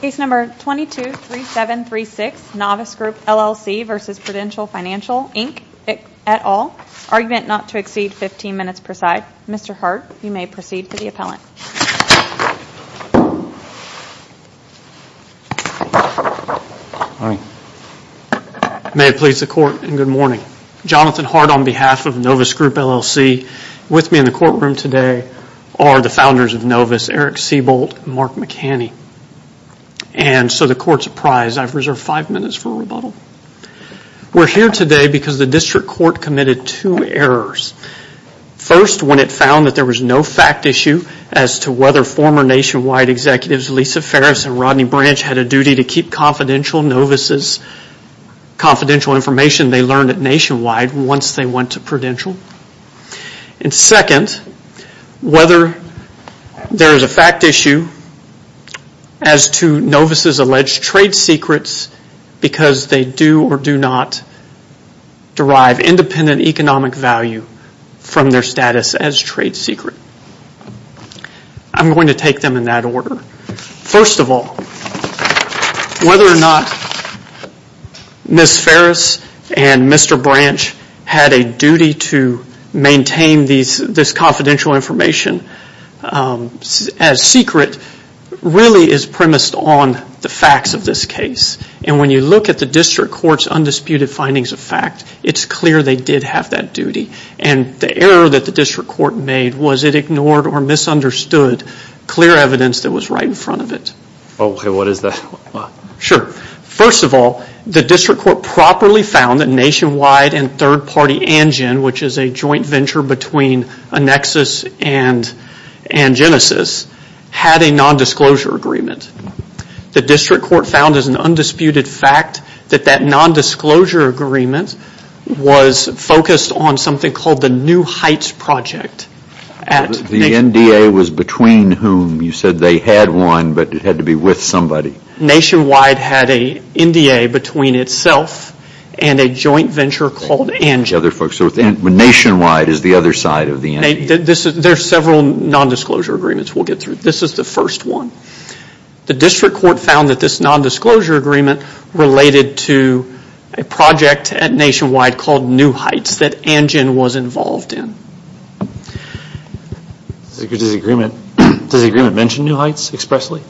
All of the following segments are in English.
Case number 223736, Novus Group LLC v. Prudential Financial Inc, et al. Argument not to exceed 15 minutes per side. Mr. Hart, you may proceed to the appellant. May it please the court and good morning. Jonathan Hart on behalf of Novus Group LLC. With me in the courtroom today are the founders of Novus, Eric Seabolt and Mark McHaney. So the court's apprised. I've reserved five minutes for rebuttal. We're here today because the district court committed two errors. First when it found that there was no fact issue as to whether former nationwide executives Lisa Farris and Rodney Branch had a duty to keep confidential Novus' confidential information they learned at Nationwide once they went to Prudential. And second, whether there is a fact issue as to Novus' alleged trade secrets because they do or do not derive independent economic value from their status as trade secret. I'm going to take them in that order. First of all, whether or not Ms. Farris and Mr. Branch had a duty to maintain this confidential information as secret really is premised on the facts of this case. And when you look at the district court's undisputed findings of fact, it's clear they did have that duty. And the error that the district court made was it ignored or misunderstood clear evidence that was right in front of it. First of all, the district court properly found that Nationwide and third-party Angen, which is a joint venture between Annexus and Genesis, had a nondisclosure agreement. The district court found as an undisputed fact that that nondisclosure agreement was focused on something called the New Heights Project. The NDA was between whom? You said they had one, but it had to be with somebody. Nationwide had a NDA between itself and a joint venture called Angen. So Nationwide is the other side of the NDA? There's several nondisclosure agreements we'll get through. This is the first one. The district court found that this nondisclosure agreement related to a project at Nationwide called New Heights that Angen was involved in. Does the agreement mention New Heights expressly?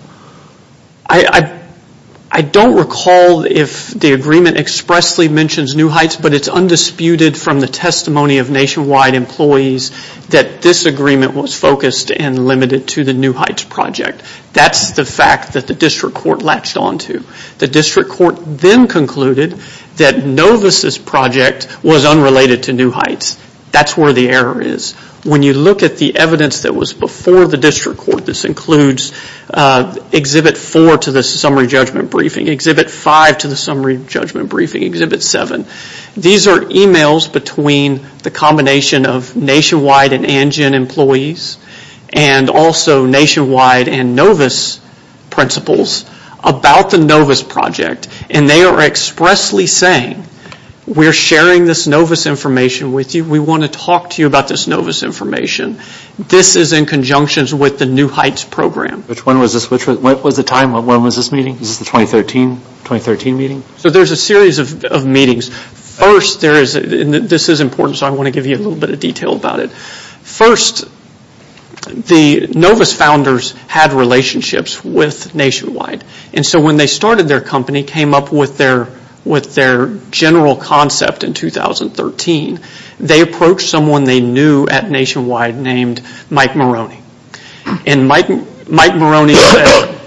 I don't recall if the agreement expressly mentions New Heights, but it's undisputed from the testimony of Nationwide employees that this agreement was focused and limited to the New Heights Project. That's the fact that the district court latched onto. The district court then concluded that Novus' project was unrelated to New Heights. That's where the error is. When you look at the evidence that was before the district court, this includes Exhibit 4 to the summary judgment briefing, Exhibit 5 to the summary judgment briefing, Exhibit 7. These are emails between the combination of Nationwide and Angen employees and also Nationwide and Novus principals about the Novus Project. They are expressly saying, we're sharing this Novus information with you. We want to talk to you about this Novus information. This is in conjunction with the New Heights Program. Which one was this? What was the time? When was this meeting? Was this the 2013 meeting? There's a series of meetings. This is important, so I want to give you a little bit of detail about it. First, the Novus founders had relationships with Nationwide. When they started their company, came up with their general concept in 2013, they approached someone they knew at Nationwide named Mike Maroney. Mike Maroney said,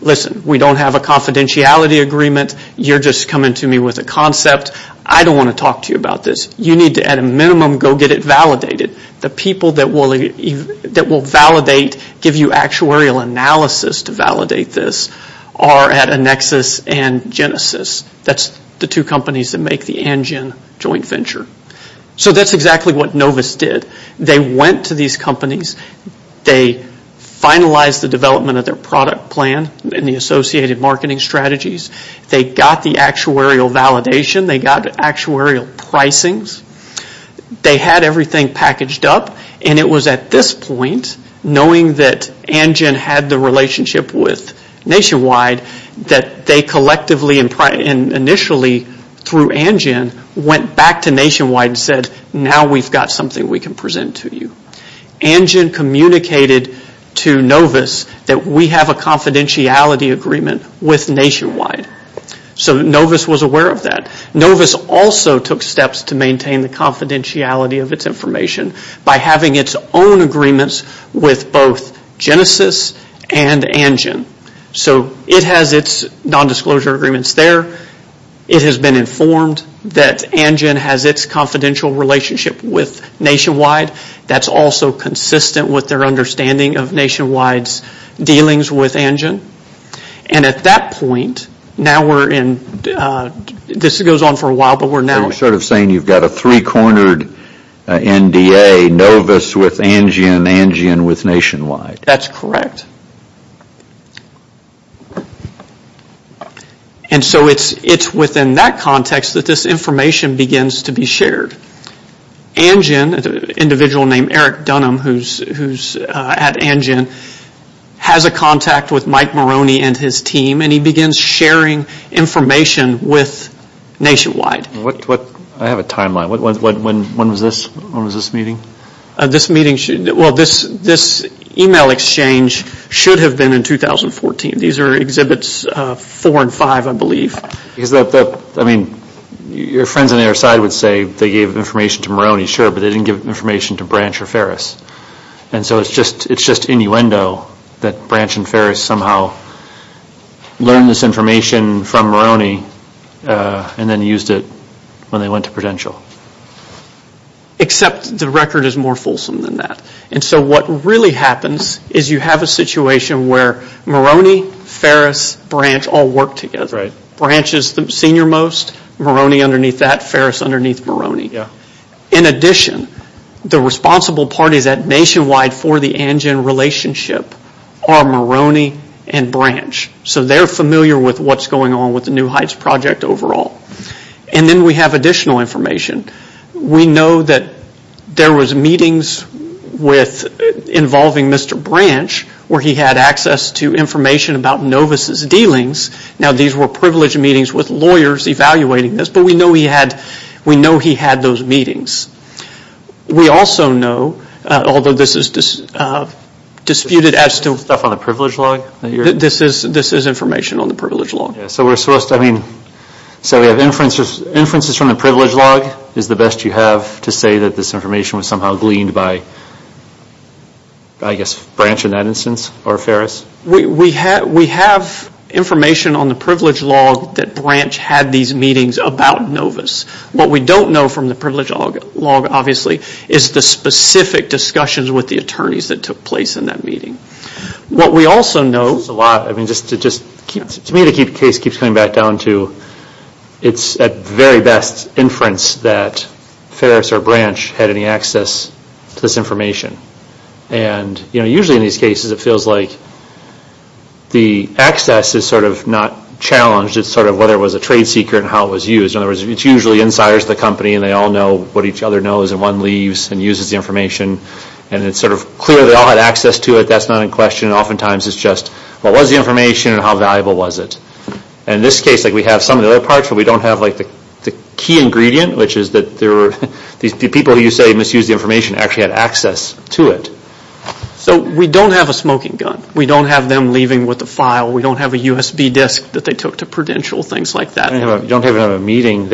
listen, we don't have a confidentiality agreement. You're just coming to me with a concept. I don't want to talk to you about this. You need to, at a minimum, go get it validated. The people that will validate, give you actuarial analysis to validate this, are at Annexus and Genesis. That's the two companies that make the Angen joint venture. That's exactly what Novus did. They went to these companies. They finalized the development of their product plan and the associated marketing strategies. They got the actuarial validation. They got actuarial pricings. They had everything packaged up. It was at this point, knowing that Angen had the relationship with Nationwide, that they collectively and initially, through Angen, went back to Nationwide and said, now we've got something we can present to you. Angen communicated to Novus that we have a confidentiality agreement with Nationwide. Novus was aware of that. Novus also took steps to maintain the confidentiality of its information by having its own agreements with both Genesis and Angen. It has its non-disclosure agreements there. It has been informed that Angen has its confidential relationship with Nationwide. That's also consistent with their understanding of Nationwide's dealings with Angen. At that point, this goes on for a while, but we're now... You're sort of saying you've got a three-cornered NDA, Novus with Angen, Angen with Nationwide. That's correct. It's within that context that this information begins to be shared. Angen, an individual named Eric Dunham, who's at Angen, has a contact with Mike Maroney and his team, and he begins sharing information with Nationwide. I have a timeline. When was this meeting? This email exchange should have been in 2014. These are Exhibits 4 and 5, I believe. Your friends on the other side would say they gave information to Maroney, sure, but they didn't give information to Branch or Ferris. It's just innuendo that Branch and Ferris somehow learned this information from Maroney and then used it when they went to Prudential. Except the record is more fulsome than that. What really happens is you have a situation where Maroney, Ferris, Branch all work together. Branch is the senior most, Maroney underneath that, Ferris underneath Maroney. In addition, the responsible parties at Nationwide for the Angen relationship are Maroney and Branch. So they're familiar with what's going on with the New Heights project overall. And then we have additional information. We know that there was meetings involving Mr. Branch where he had access to information about Novus' dealings. Now these were privileged meetings with lawyers evaluating this, but we know he had those meetings. We also know, although this is disputed as to, this is information on the privilege log. So we have inferences from the privilege log, is the best you have to say that this information was somehow gleaned by, I guess, Branch in that instance or Ferris? We have information on the privilege log that Branch had these meetings about Novus. What we don't know from the privilege log, obviously, is the specific discussions with the attorneys that took place in that meeting. What we also know... It's a lot. I mean, to me the case keeps coming back down to, it's at very best inference that Ferris or Branch had any access to this information. And usually in these cases it feels like the access is sort of not challenged, it's sort of whether it was a trade secret and how it was used. In other words, it's usually insiders of the company and they all know what each other knows and one leaves and uses the information. And it's sort of clear they all had access to it. That's not in question. Oftentimes it's just, what was the information and how valuable was it? In this case, we have some of the other parts, but we don't have the key ingredient, which is that the people you say misused the information actually had access to it. So we don't have a smoking gun. We don't have them leaving with a file. We don't have a USB disk that they took to Prudential, things like that. You don't have a meeting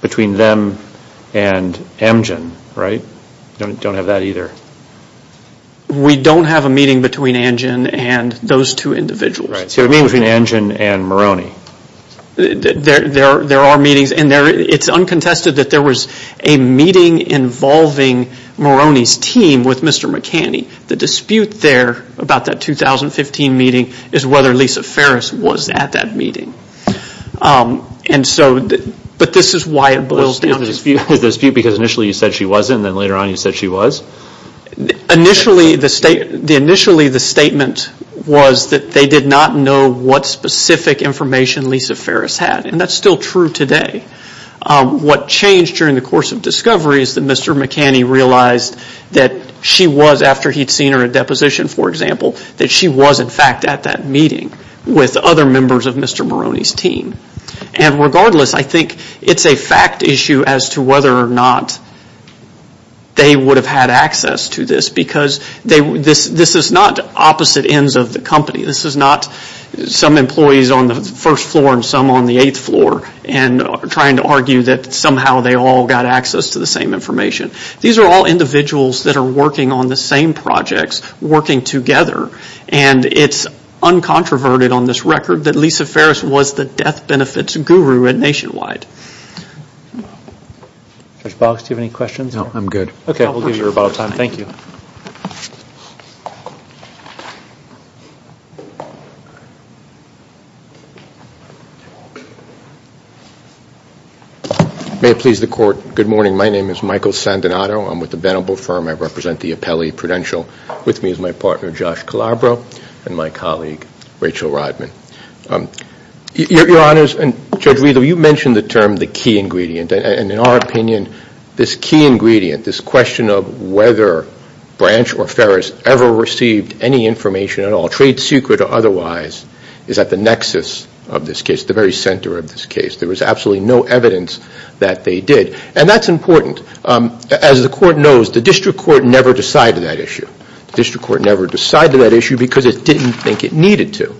between them and Amgen, right? Don't have that either. We don't have a meeting between Amgen and those two individuals. Right. So you have a meeting between Amgen and Moroni. There are meetings and it's uncontested that there was a meeting involving Moroni's team with Mr. McCanny. The dispute there about that 2015 meeting is whether Lisa Ferris was at that meeting. But this is why it boils down to dispute. Because initially you said she wasn't and then later on you said she was? Initially the statement was that they did not know what specific information Lisa Ferris had and that's still true today. What changed during the course of discovery is that Mr. McCanny realized that she was, after he'd seen her at deposition for example, that she was in fact at that meeting with other members of Mr. Moroni's team. And regardless, I think it's a fact issue as to whether or not they would have had access to this because this is not opposite ends of the company. This is not some employees on the first floor and some on the eighth floor and trying to argue that somehow they all got access to the same information. These are all individuals that are working on the same projects, working together. And it's uncontroverted on this record that Lisa Ferris was the death benefits guru nationwide. Judge Boggs, do you have any questions? No, I'm good. Okay. I'll give you about time. Thank you. May it please the court, good morning. My name is Michael Sandinato, I'm with the Benable Firm, I represent the Apelli Prudential. With me is my partner, Josh Calabro, and my colleague, Rachel Rodman. Your honors, and Judge Riedel, you mentioned the term, the key ingredient, and in our opinion, this key ingredient, this question of whether Branch or Ferris ever received any information at all, trade secret or otherwise, is at the nexus of this case, the very center of this case. There was absolutely no evidence that they did. And that's important. As the court knows, the district court never decided that issue. The district court never decided that issue because it didn't think it needed to.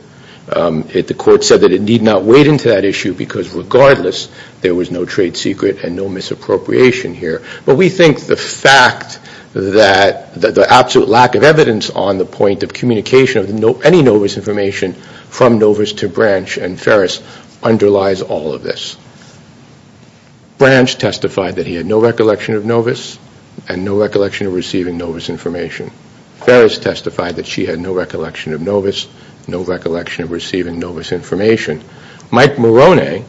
The court said that it need not wade into that issue because regardless, there was no trade secret and no misappropriation here. But we think the fact that the absolute lack of evidence on the point of communication of any Novus information from Novus to Branch and Ferris underlies all of this. Branch testified that he had no recollection of Novus and no recollection of receiving Novus information. Ferris testified that she had no recollection of Novus, no recollection of receiving Novus information. Mike Moroney,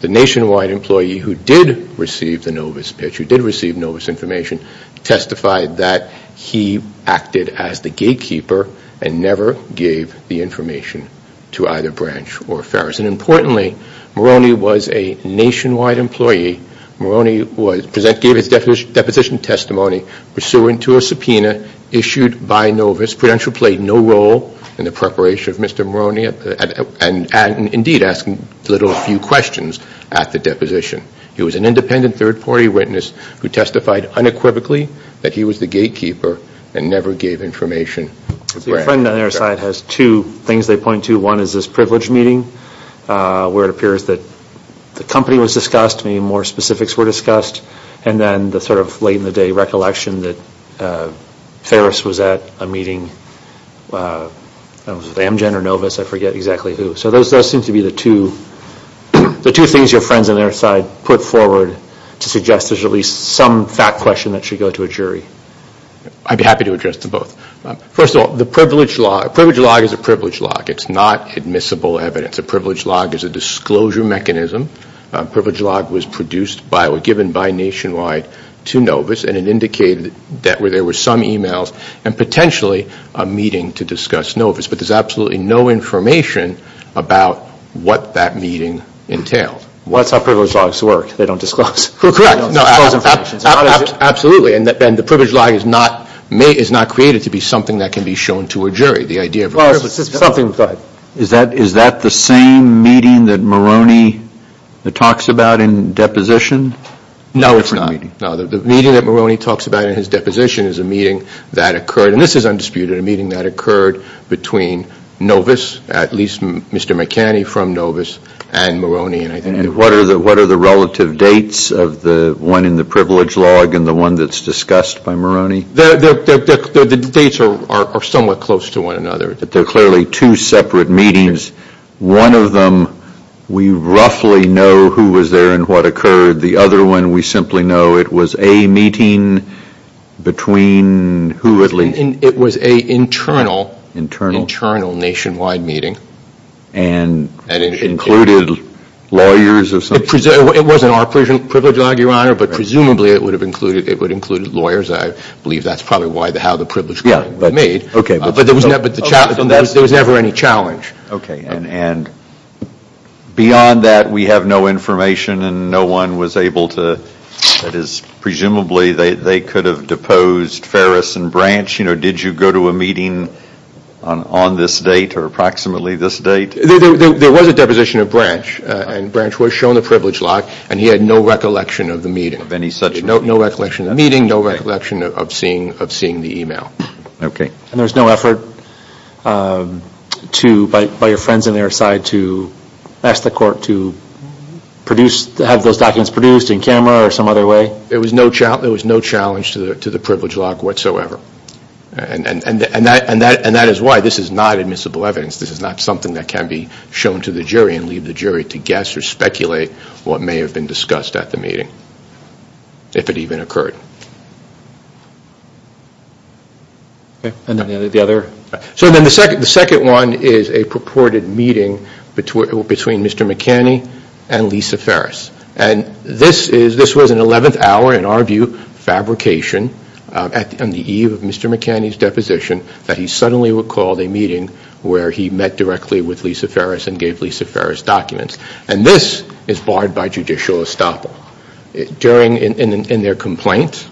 the nationwide employee who did receive the Novus pitch, who did receive Novus information, testified that he acted as the gatekeeper and never gave the information to either Branch or Ferris. And importantly, Moroney was a nationwide employee. Moroney gave his deposition testimony pursuant to a subpoena issued by Novus. Prudential played no role in the preparation of Mr. Moroney and indeed asking little or few questions at the deposition. He was an independent third party witness who testified unequivocally that he was the gatekeeper and never gave information to Branch. So your friend on the other side has two things they point to. One is this privilege meeting where it appears that the company was discussed, maybe more specifics were discussed, and then the sort of late in the day recollection that Ferris was at a meeting with Amgen or Novus, I forget exactly who. So those seem to be the two things your friends on the other side put forward to suggest there's at least some fact question that should go to a jury. I'd be happy to address them both. First of all, the privilege log is a privilege log. It's not admissible evidence. A privilege log is a disclosure mechanism. Privilege log was produced by or given by Nationwide to Novus and it indicated that there were some emails and potentially a meeting to discuss Novus, but there's absolutely no information about what that meeting entailed. What's how privilege logs work? They don't disclose? Correct. They don't disclose information. Absolutely. And the privilege log is not created to be something that can be shown to a jury. The idea of a privilege log. Well, it's something but. Is that the same meeting that Moroni talks about in deposition? No it's not. No. The meeting that Moroni talks about in his deposition is a meeting that occurred, and this is undisputed, a meeting that occurred between Novus, at least Mr. McCanny from Novus, and Moroni. And what are the relative dates of the one in the privilege log and the one that's discussed by Moroni? The dates are somewhat close to one another. They're clearly two separate meetings. One of them we roughly know who was there and what occurred. The other one we simply know it was a meeting between who at least. It was an internal, internal Nationwide meeting. And it included lawyers or something? It wasn't our privilege log, Your Honor, but presumably it would have included, it would have included lawyers. I believe that's probably how the privilege log was made, but there was never any challenge. Okay. And beyond that, we have no information and no one was able to, that is, presumably they could have deposed Ferris and Branch. Did you go to a meeting on this date or approximately this date? There was a deposition of Branch, and Branch was shown the privilege log and he had no recollection of the meeting. Of any such meeting? No recollection of the meeting, no recollection of seeing the email. Okay. And there was no effort to, by your friends on their side, to ask the court to produce, have those documents produced in camera or some other way? There was no challenge to the privilege log whatsoever, and that is why this is not admissible evidence. This is not something that can be shown to the jury and leave the jury to guess or speculate what may have been discussed at the meeting. If it even occurred. Okay. And then the other? So then the second one is a purported meeting between Mr. McKinney and Lisa Ferris. And this was an 11th hour, in our view, fabrication on the eve of Mr. McKinney's deposition that he suddenly recalled a meeting where he met directly with Lisa Ferris and gave Lisa Ferris documents. And this is barred by judicial estoppel. During, in their complaint,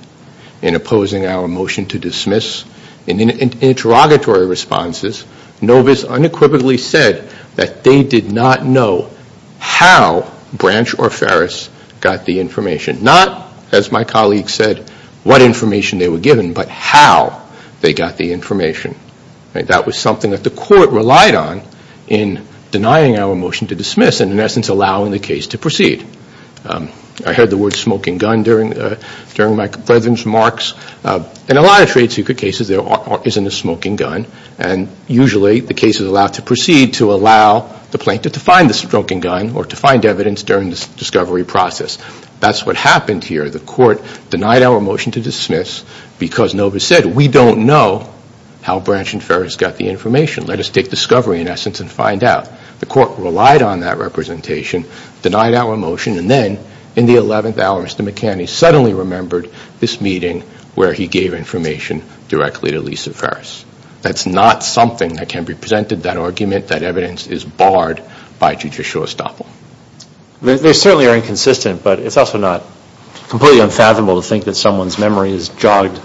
in opposing our motion to dismiss, in interrogatory responses, Novus unequivocally said that they did not know how Branch or Ferris got the information. Not, as my colleague said, what information they were given, but how they got the information. That was something that the court relied on in denying our motion to dismiss and, in essence, allowing the case to proceed. I heard the word smoking gun during my president's remarks. In a lot of trade secret cases, there isn't a smoking gun. And usually the case is allowed to proceed to allow the plaintiff to find the smoking gun or to find evidence during the discovery process. That's what happened here. The court denied our motion to dismiss because Novus said, we don't know how Branch and Ferris got the information. Let us take discovery, in essence, and find out. The court relied on that representation, denied our motion, and then, in the 11th hour, Mr. McKinney suddenly remembered this meeting where he gave information directly to Lisa Ferris. That's not something that can be presented, that argument, that evidence is barred by judicial estoppel. They certainly are inconsistent, but it's also not completely unfathomable to think that someone's memory is jogged.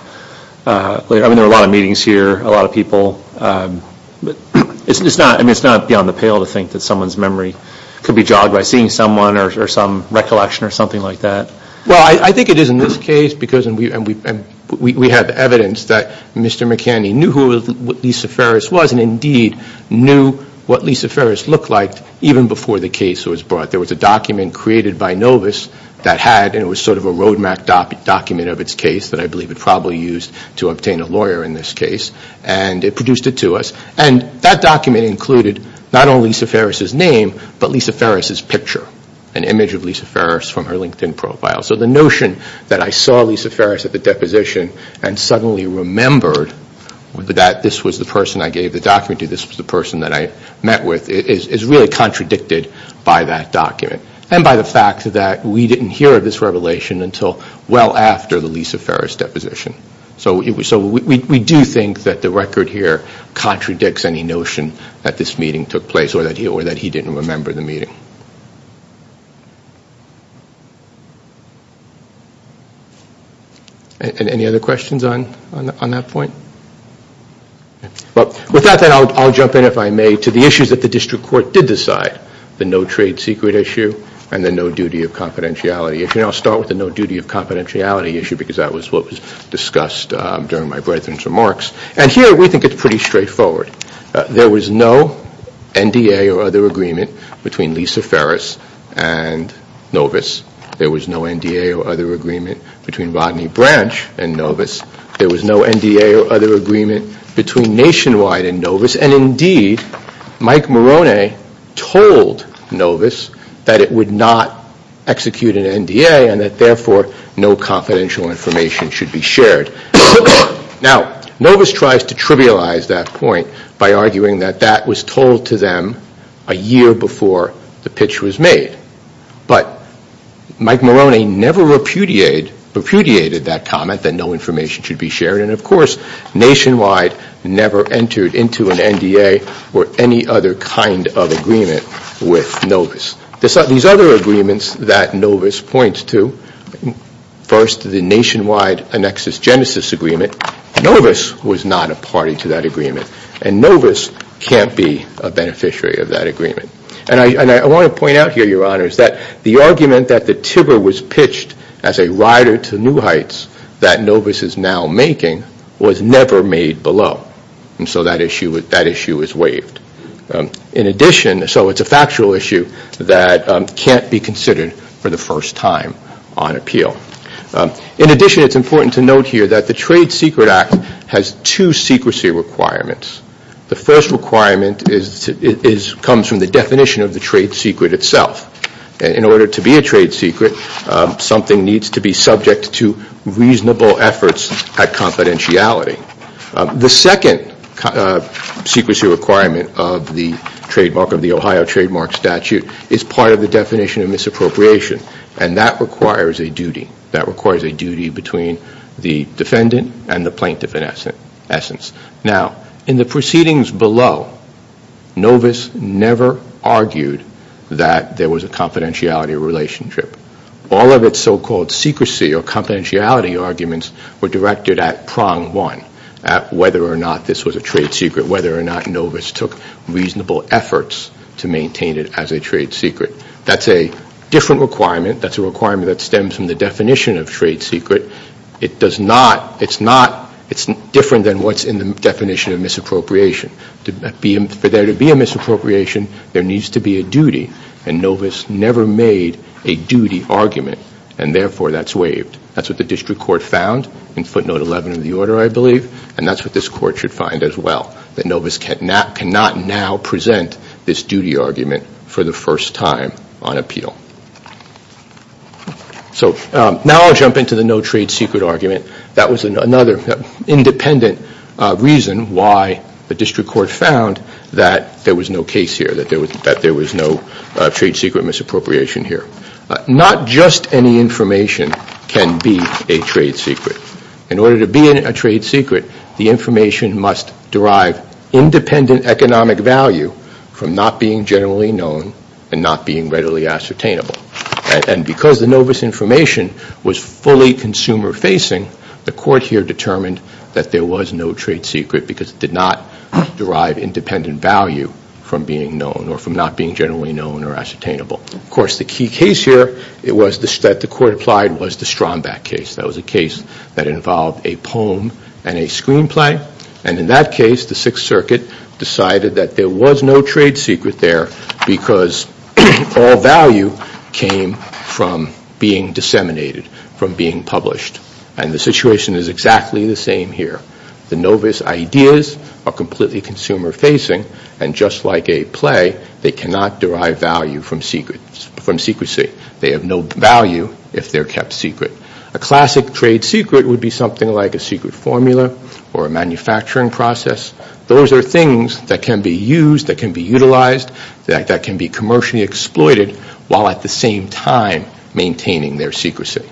I mean, there are a lot of meetings here, a lot of people. It's not beyond the pale to think that someone's memory could be jogged by seeing someone or some recollection or something like that. Well, I think it is in this case because we have evidence that Mr. McKinney knew who Lisa Ferris was and, indeed, knew what Lisa Ferris looked like even before the case was brought. There was a document created by Novus that had, and it was sort of a road map document of its case that I believe it probably used to obtain a lawyer in this case, and it produced it to us. And that document included not only Lisa Ferris' name, but Lisa Ferris' picture, an image of Lisa Ferris from her LinkedIn profile. So the notion that I saw Lisa Ferris at the deposition and suddenly remembered that this was the person I gave the document to, this was the person that I met with, is really contradicted by that document and by the fact that we didn't hear of this revelation until well after the Lisa Ferris deposition. So we do think that the record here contradicts any notion that this meeting took place or that he didn't remember the meeting. Any other questions on that point? With that, I'll jump in, if I may, to the issues that the district court did decide, the no trade secret issue and the no duty of confidentiality issue. And I'll start with the no duty of confidentiality issue because that was what was discussed during my brethren's remarks. And here we think it's pretty straightforward. There was no NDA or other agreement between Lisa Ferris and Novus. There was no NDA or other agreement between Rodney Branch and Novus. There was no NDA or other agreement between Nationwide and Novus. And indeed, Mike Moroney told Novus that it would not execute an NDA and that therefore no confidential information should be shared. Now, Novus tries to trivialize that point by arguing that that was told to them a year before the pitch was made. But Mike Moroney never repudiated that comment that no information should be shared. And of course, Nationwide never entered into an NDA or any other kind of agreement with Novus. These other agreements that Novus points to, first the Nationwide Annexus Genesis Agreement, Novus was not a party to that agreement. And Novus can't be a beneficiary of that agreement. And I want to point out here, Your Honor, is that the argument that the Tiber was pitched as a rider to new heights that Novus is now making was never made below. And so that issue is waived. In addition, so it's a factual issue that can't be considered for the first time on appeal. In addition, it's important to note here that the Trade Secret Act has two secrecy requirements. The first requirement comes from the definition of the trade secret itself. In order to be a trade secret, something needs to be subject to reasonable efforts at confidentiality. The second secrecy requirement of the trademark of the Ohio Trademark Statute is part of the definition of misappropriation. And that requires a duty. Now, in the proceedings below, Novus never argued that there was a confidentiality relationship. All of its so-called secrecy or confidentiality arguments were directed at prong one, at whether or not this was a trade secret, whether or not Novus took reasonable efforts to maintain it as a trade secret. That's a different requirement. That's a requirement that stems from the definition of trade secret. It's different than what's in the definition of misappropriation. For there to be a misappropriation, there needs to be a duty. And Novus never made a duty argument. And therefore, that's waived. That's what the district court found in footnote 11 of the order, I believe. And that's what this court should find as well, that Novus cannot now present this duty argument for the first time on appeal. So now I'll jump into the no trade secret argument. That was another independent reason why the district court found that there was no case here, that there was no trade secret misappropriation here. Not just any information can be a trade secret. In order to be a trade secret, the information must derive independent economic value from not being generally known and not being readily ascertained. And because the Novus information was fully consumer-facing, the court here determined that there was no trade secret because it did not derive independent value from being known or from not being generally known or ascertainable. Of course, the key case here that the court applied was the Strombach case. That was a case that involved a poem and a screenplay. And in that case, the Sixth Circuit decided that there was no trade secret there because all value came from being disseminated, from being published. And the situation is exactly the same here. The Novus ideas are completely consumer-facing, and just like a play, they cannot derive value from secrecy. They have no value if they're kept secret. A classic trade secret would be something like a secret formula or a manufacturing process. Those are things that can be used, that can be utilized, that can be commercially exploited, while at the same time maintaining their secrecy.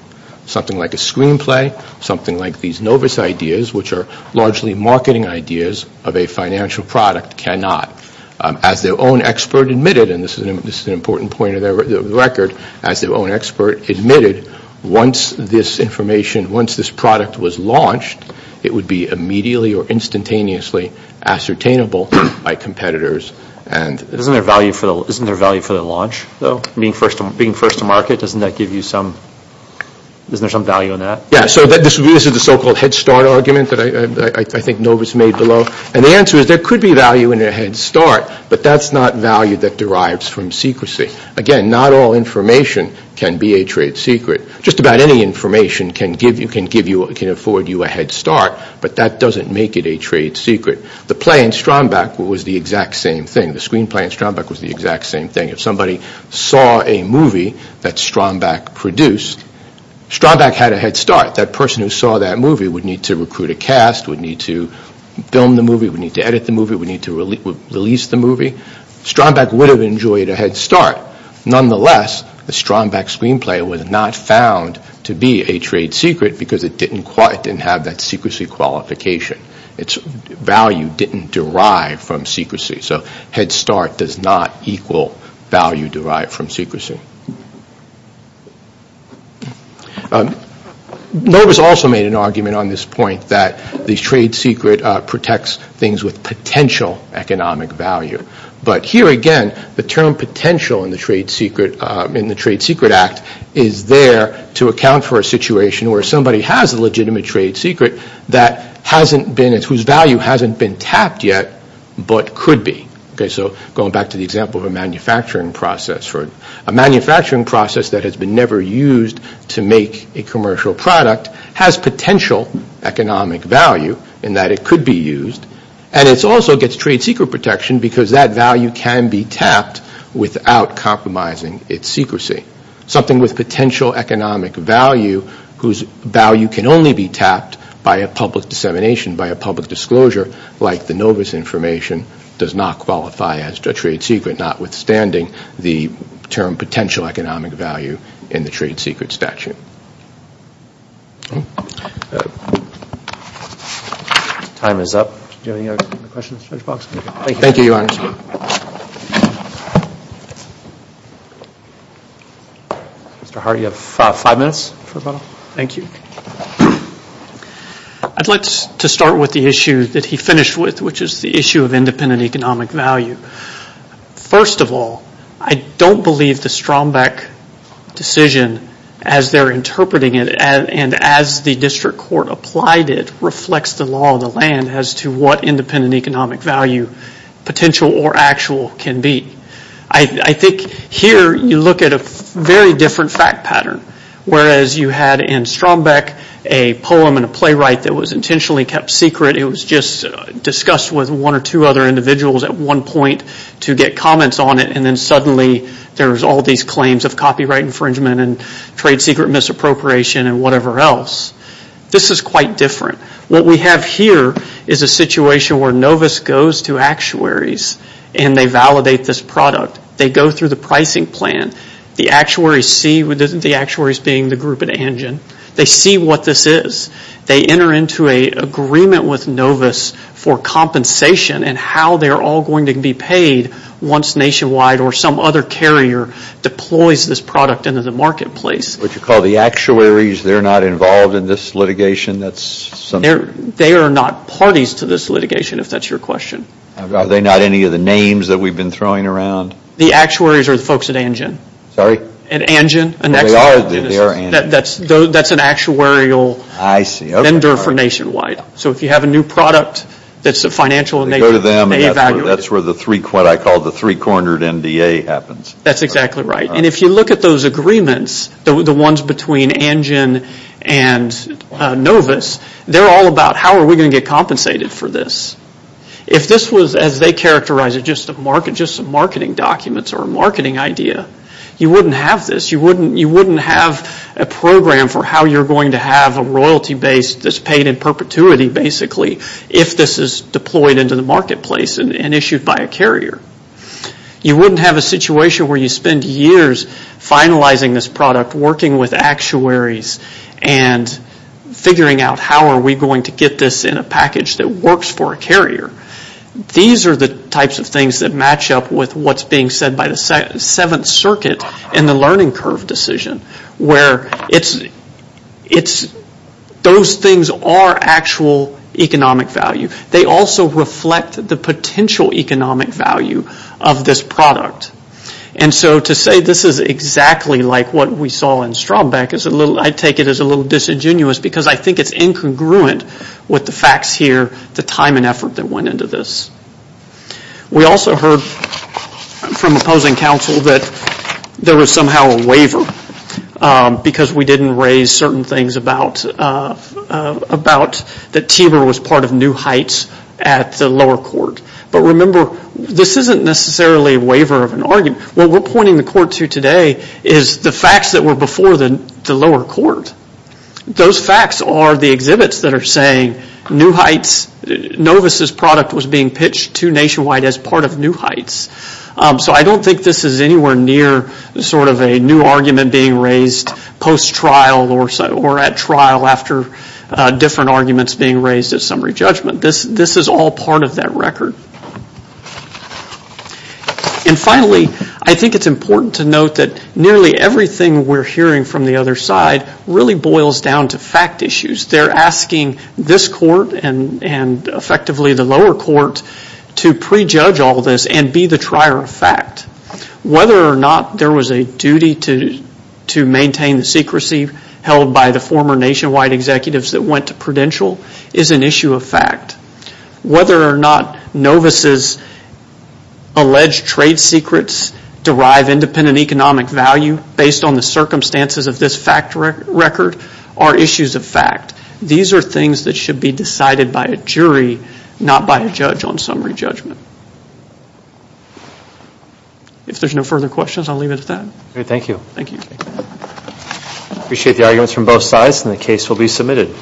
Something like a screenplay, something like these Novus ideas, which are largely marketing ideas of a financial product, cannot. As their own expert admitted, and this is an important point of the record, as their own expert admitted, once this information, once this product was launched, it would be immediately or instantaneously ascertainable by competitors and... Isn't there value for the launch, though? Being first to market, doesn't that give you some... Isn't there some value in that? Yeah, so this is the so-called head start argument that I think Novus made below. And the answer is there could be value in a head start, but that's not value that derives from secrecy. Again, not all information can be a trade secret. Just about any information can afford you a head start, but that doesn't make it a trade secret. The play in Strombeck was the exact same thing. The screenplay in Strombeck was the exact same thing. If somebody saw a movie that Strombeck produced, Strombeck had a head start. That person who saw that movie would need to recruit a cast, would need to film the movie, would need to edit the movie, would need to release the movie. Strombeck would have enjoyed a head start. Nonetheless, the Strombeck screenplay was not found to be a trade secret because it didn't have that secrecy qualification. Its value didn't derive from secrecy. So head start does not equal value derived from secrecy. Novus also made an argument on this point that the trade secret protects things with potential economic value. But here again, the term potential in the Trade Secret Act is there to account for a situation where somebody has a legitimate trade secret whose value hasn't been tapped yet but could be. So going back to the example of a manufacturing process. A manufacturing process that has been never used to make a commercial product has potential economic value in that it could be used. And it also gets trade secret protection because that value can be tapped without compromising its secrecy. Something with potential economic value whose value can only be tapped by a public dissemination, by a public disclosure like the Novus information does not qualify as a trade secret notwithstanding the term potential economic value in the trade secret statute. Time is up. Do you have any other questions, Judge Boggs? Thank you, Your Honor. Mr. Hart, you have five minutes. Thank you. I'd like to start with the issue that he finished with which is the issue of independent economic value. First of all, I don't believe the Strombeck decision as they're interpreting it and as the district court applied it reflects the law of the land as to what independent economic value potential or actual can be. I think here you look at a very different fact pattern whereas you had in Strombeck a poem and a playwright that was intentionally kept secret. It was just discussed with one or two other individuals at one point to get comments on it and then suddenly there's all these claims of copyright infringement and trade secret misappropriation and whatever else. This is quite different. What we have here is a situation where Novus goes to actuaries and they validate this product. They go through the pricing plan. The actuaries see, the actuaries being the group at Angen, they see what this is. They enter into an agreement with Novus for compensation and how they're all going to be paid once Nationwide or some other carrier deploys this product into the marketplace. What you call the actuaries, they're not involved in this litigation? They are not parties to this litigation. Are they not any of the names that we've been throwing around? The actuaries are the folks at Angen. Sorry? At Angen. They are Angen. That's an actuarial vendor for Nationwide. So if you have a new product that's financial and they evaluate it. That's what I call the three-cornered NDA happens. That's exactly right. If you look at those agreements, the ones between Angen and Novus, they're all about how are we going to get compensated for this? If this was, as they characterize it, just a marketing document or a marketing idea, you wouldn't have this. You wouldn't have a program for how you're going to have a royalty base that's paid in perpetuity, basically, if this is deployed into the marketplace and issued by a carrier. You wouldn't have a situation where you spend years finalizing this product, working with actuaries, and figuring out how are we going to get this in a package that works for a carrier. These are the types of things that match up with what's being said by the Seventh Circuit in the learning curve decision, where those things are actual economic value. They also reflect the potential economic value of this product. So to say this is exactly like what we saw in Strobbeck, I take it as a little disingenuous, because I think it's incongruent with the facts here, the time and effort that went into this. We also heard from opposing counsel that there was somehow a waiver because we didn't raise certain things about that Tiber was part of New Heights at the lower court. But remember, this isn't necessarily a waiver of an argument. What we're pointing the court to today is the facts that were before the lower court. Those facts are the exhibits that are saying Novus' product was being pitched to Nationwide as part of New Heights. So I don't think this is anywhere near sort of a new argument being raised post-trial or at trial after different arguments being raised at summary judgment. This is all part of that record. And finally, I think it's important to note that nearly everything we're hearing from the other side really boils down to fact issues. They're asking this court and effectively the lower court to prejudge all this and be the trier of fact. Whether or not there was a duty to maintain the secrecy held by the former Nationwide executives that went to Prudential is an issue of fact. Whether or not Novus' alleged trade secrets derive independent economic value based on the circumstances of this fact record are issues of fact. These are things that should be decided by a jury, not by a judge on summary judgment. If there's no further questions, I'll leave it at that. Okay, thank you. Thank you. Appreciate the arguments from both sides and the case will be submitted.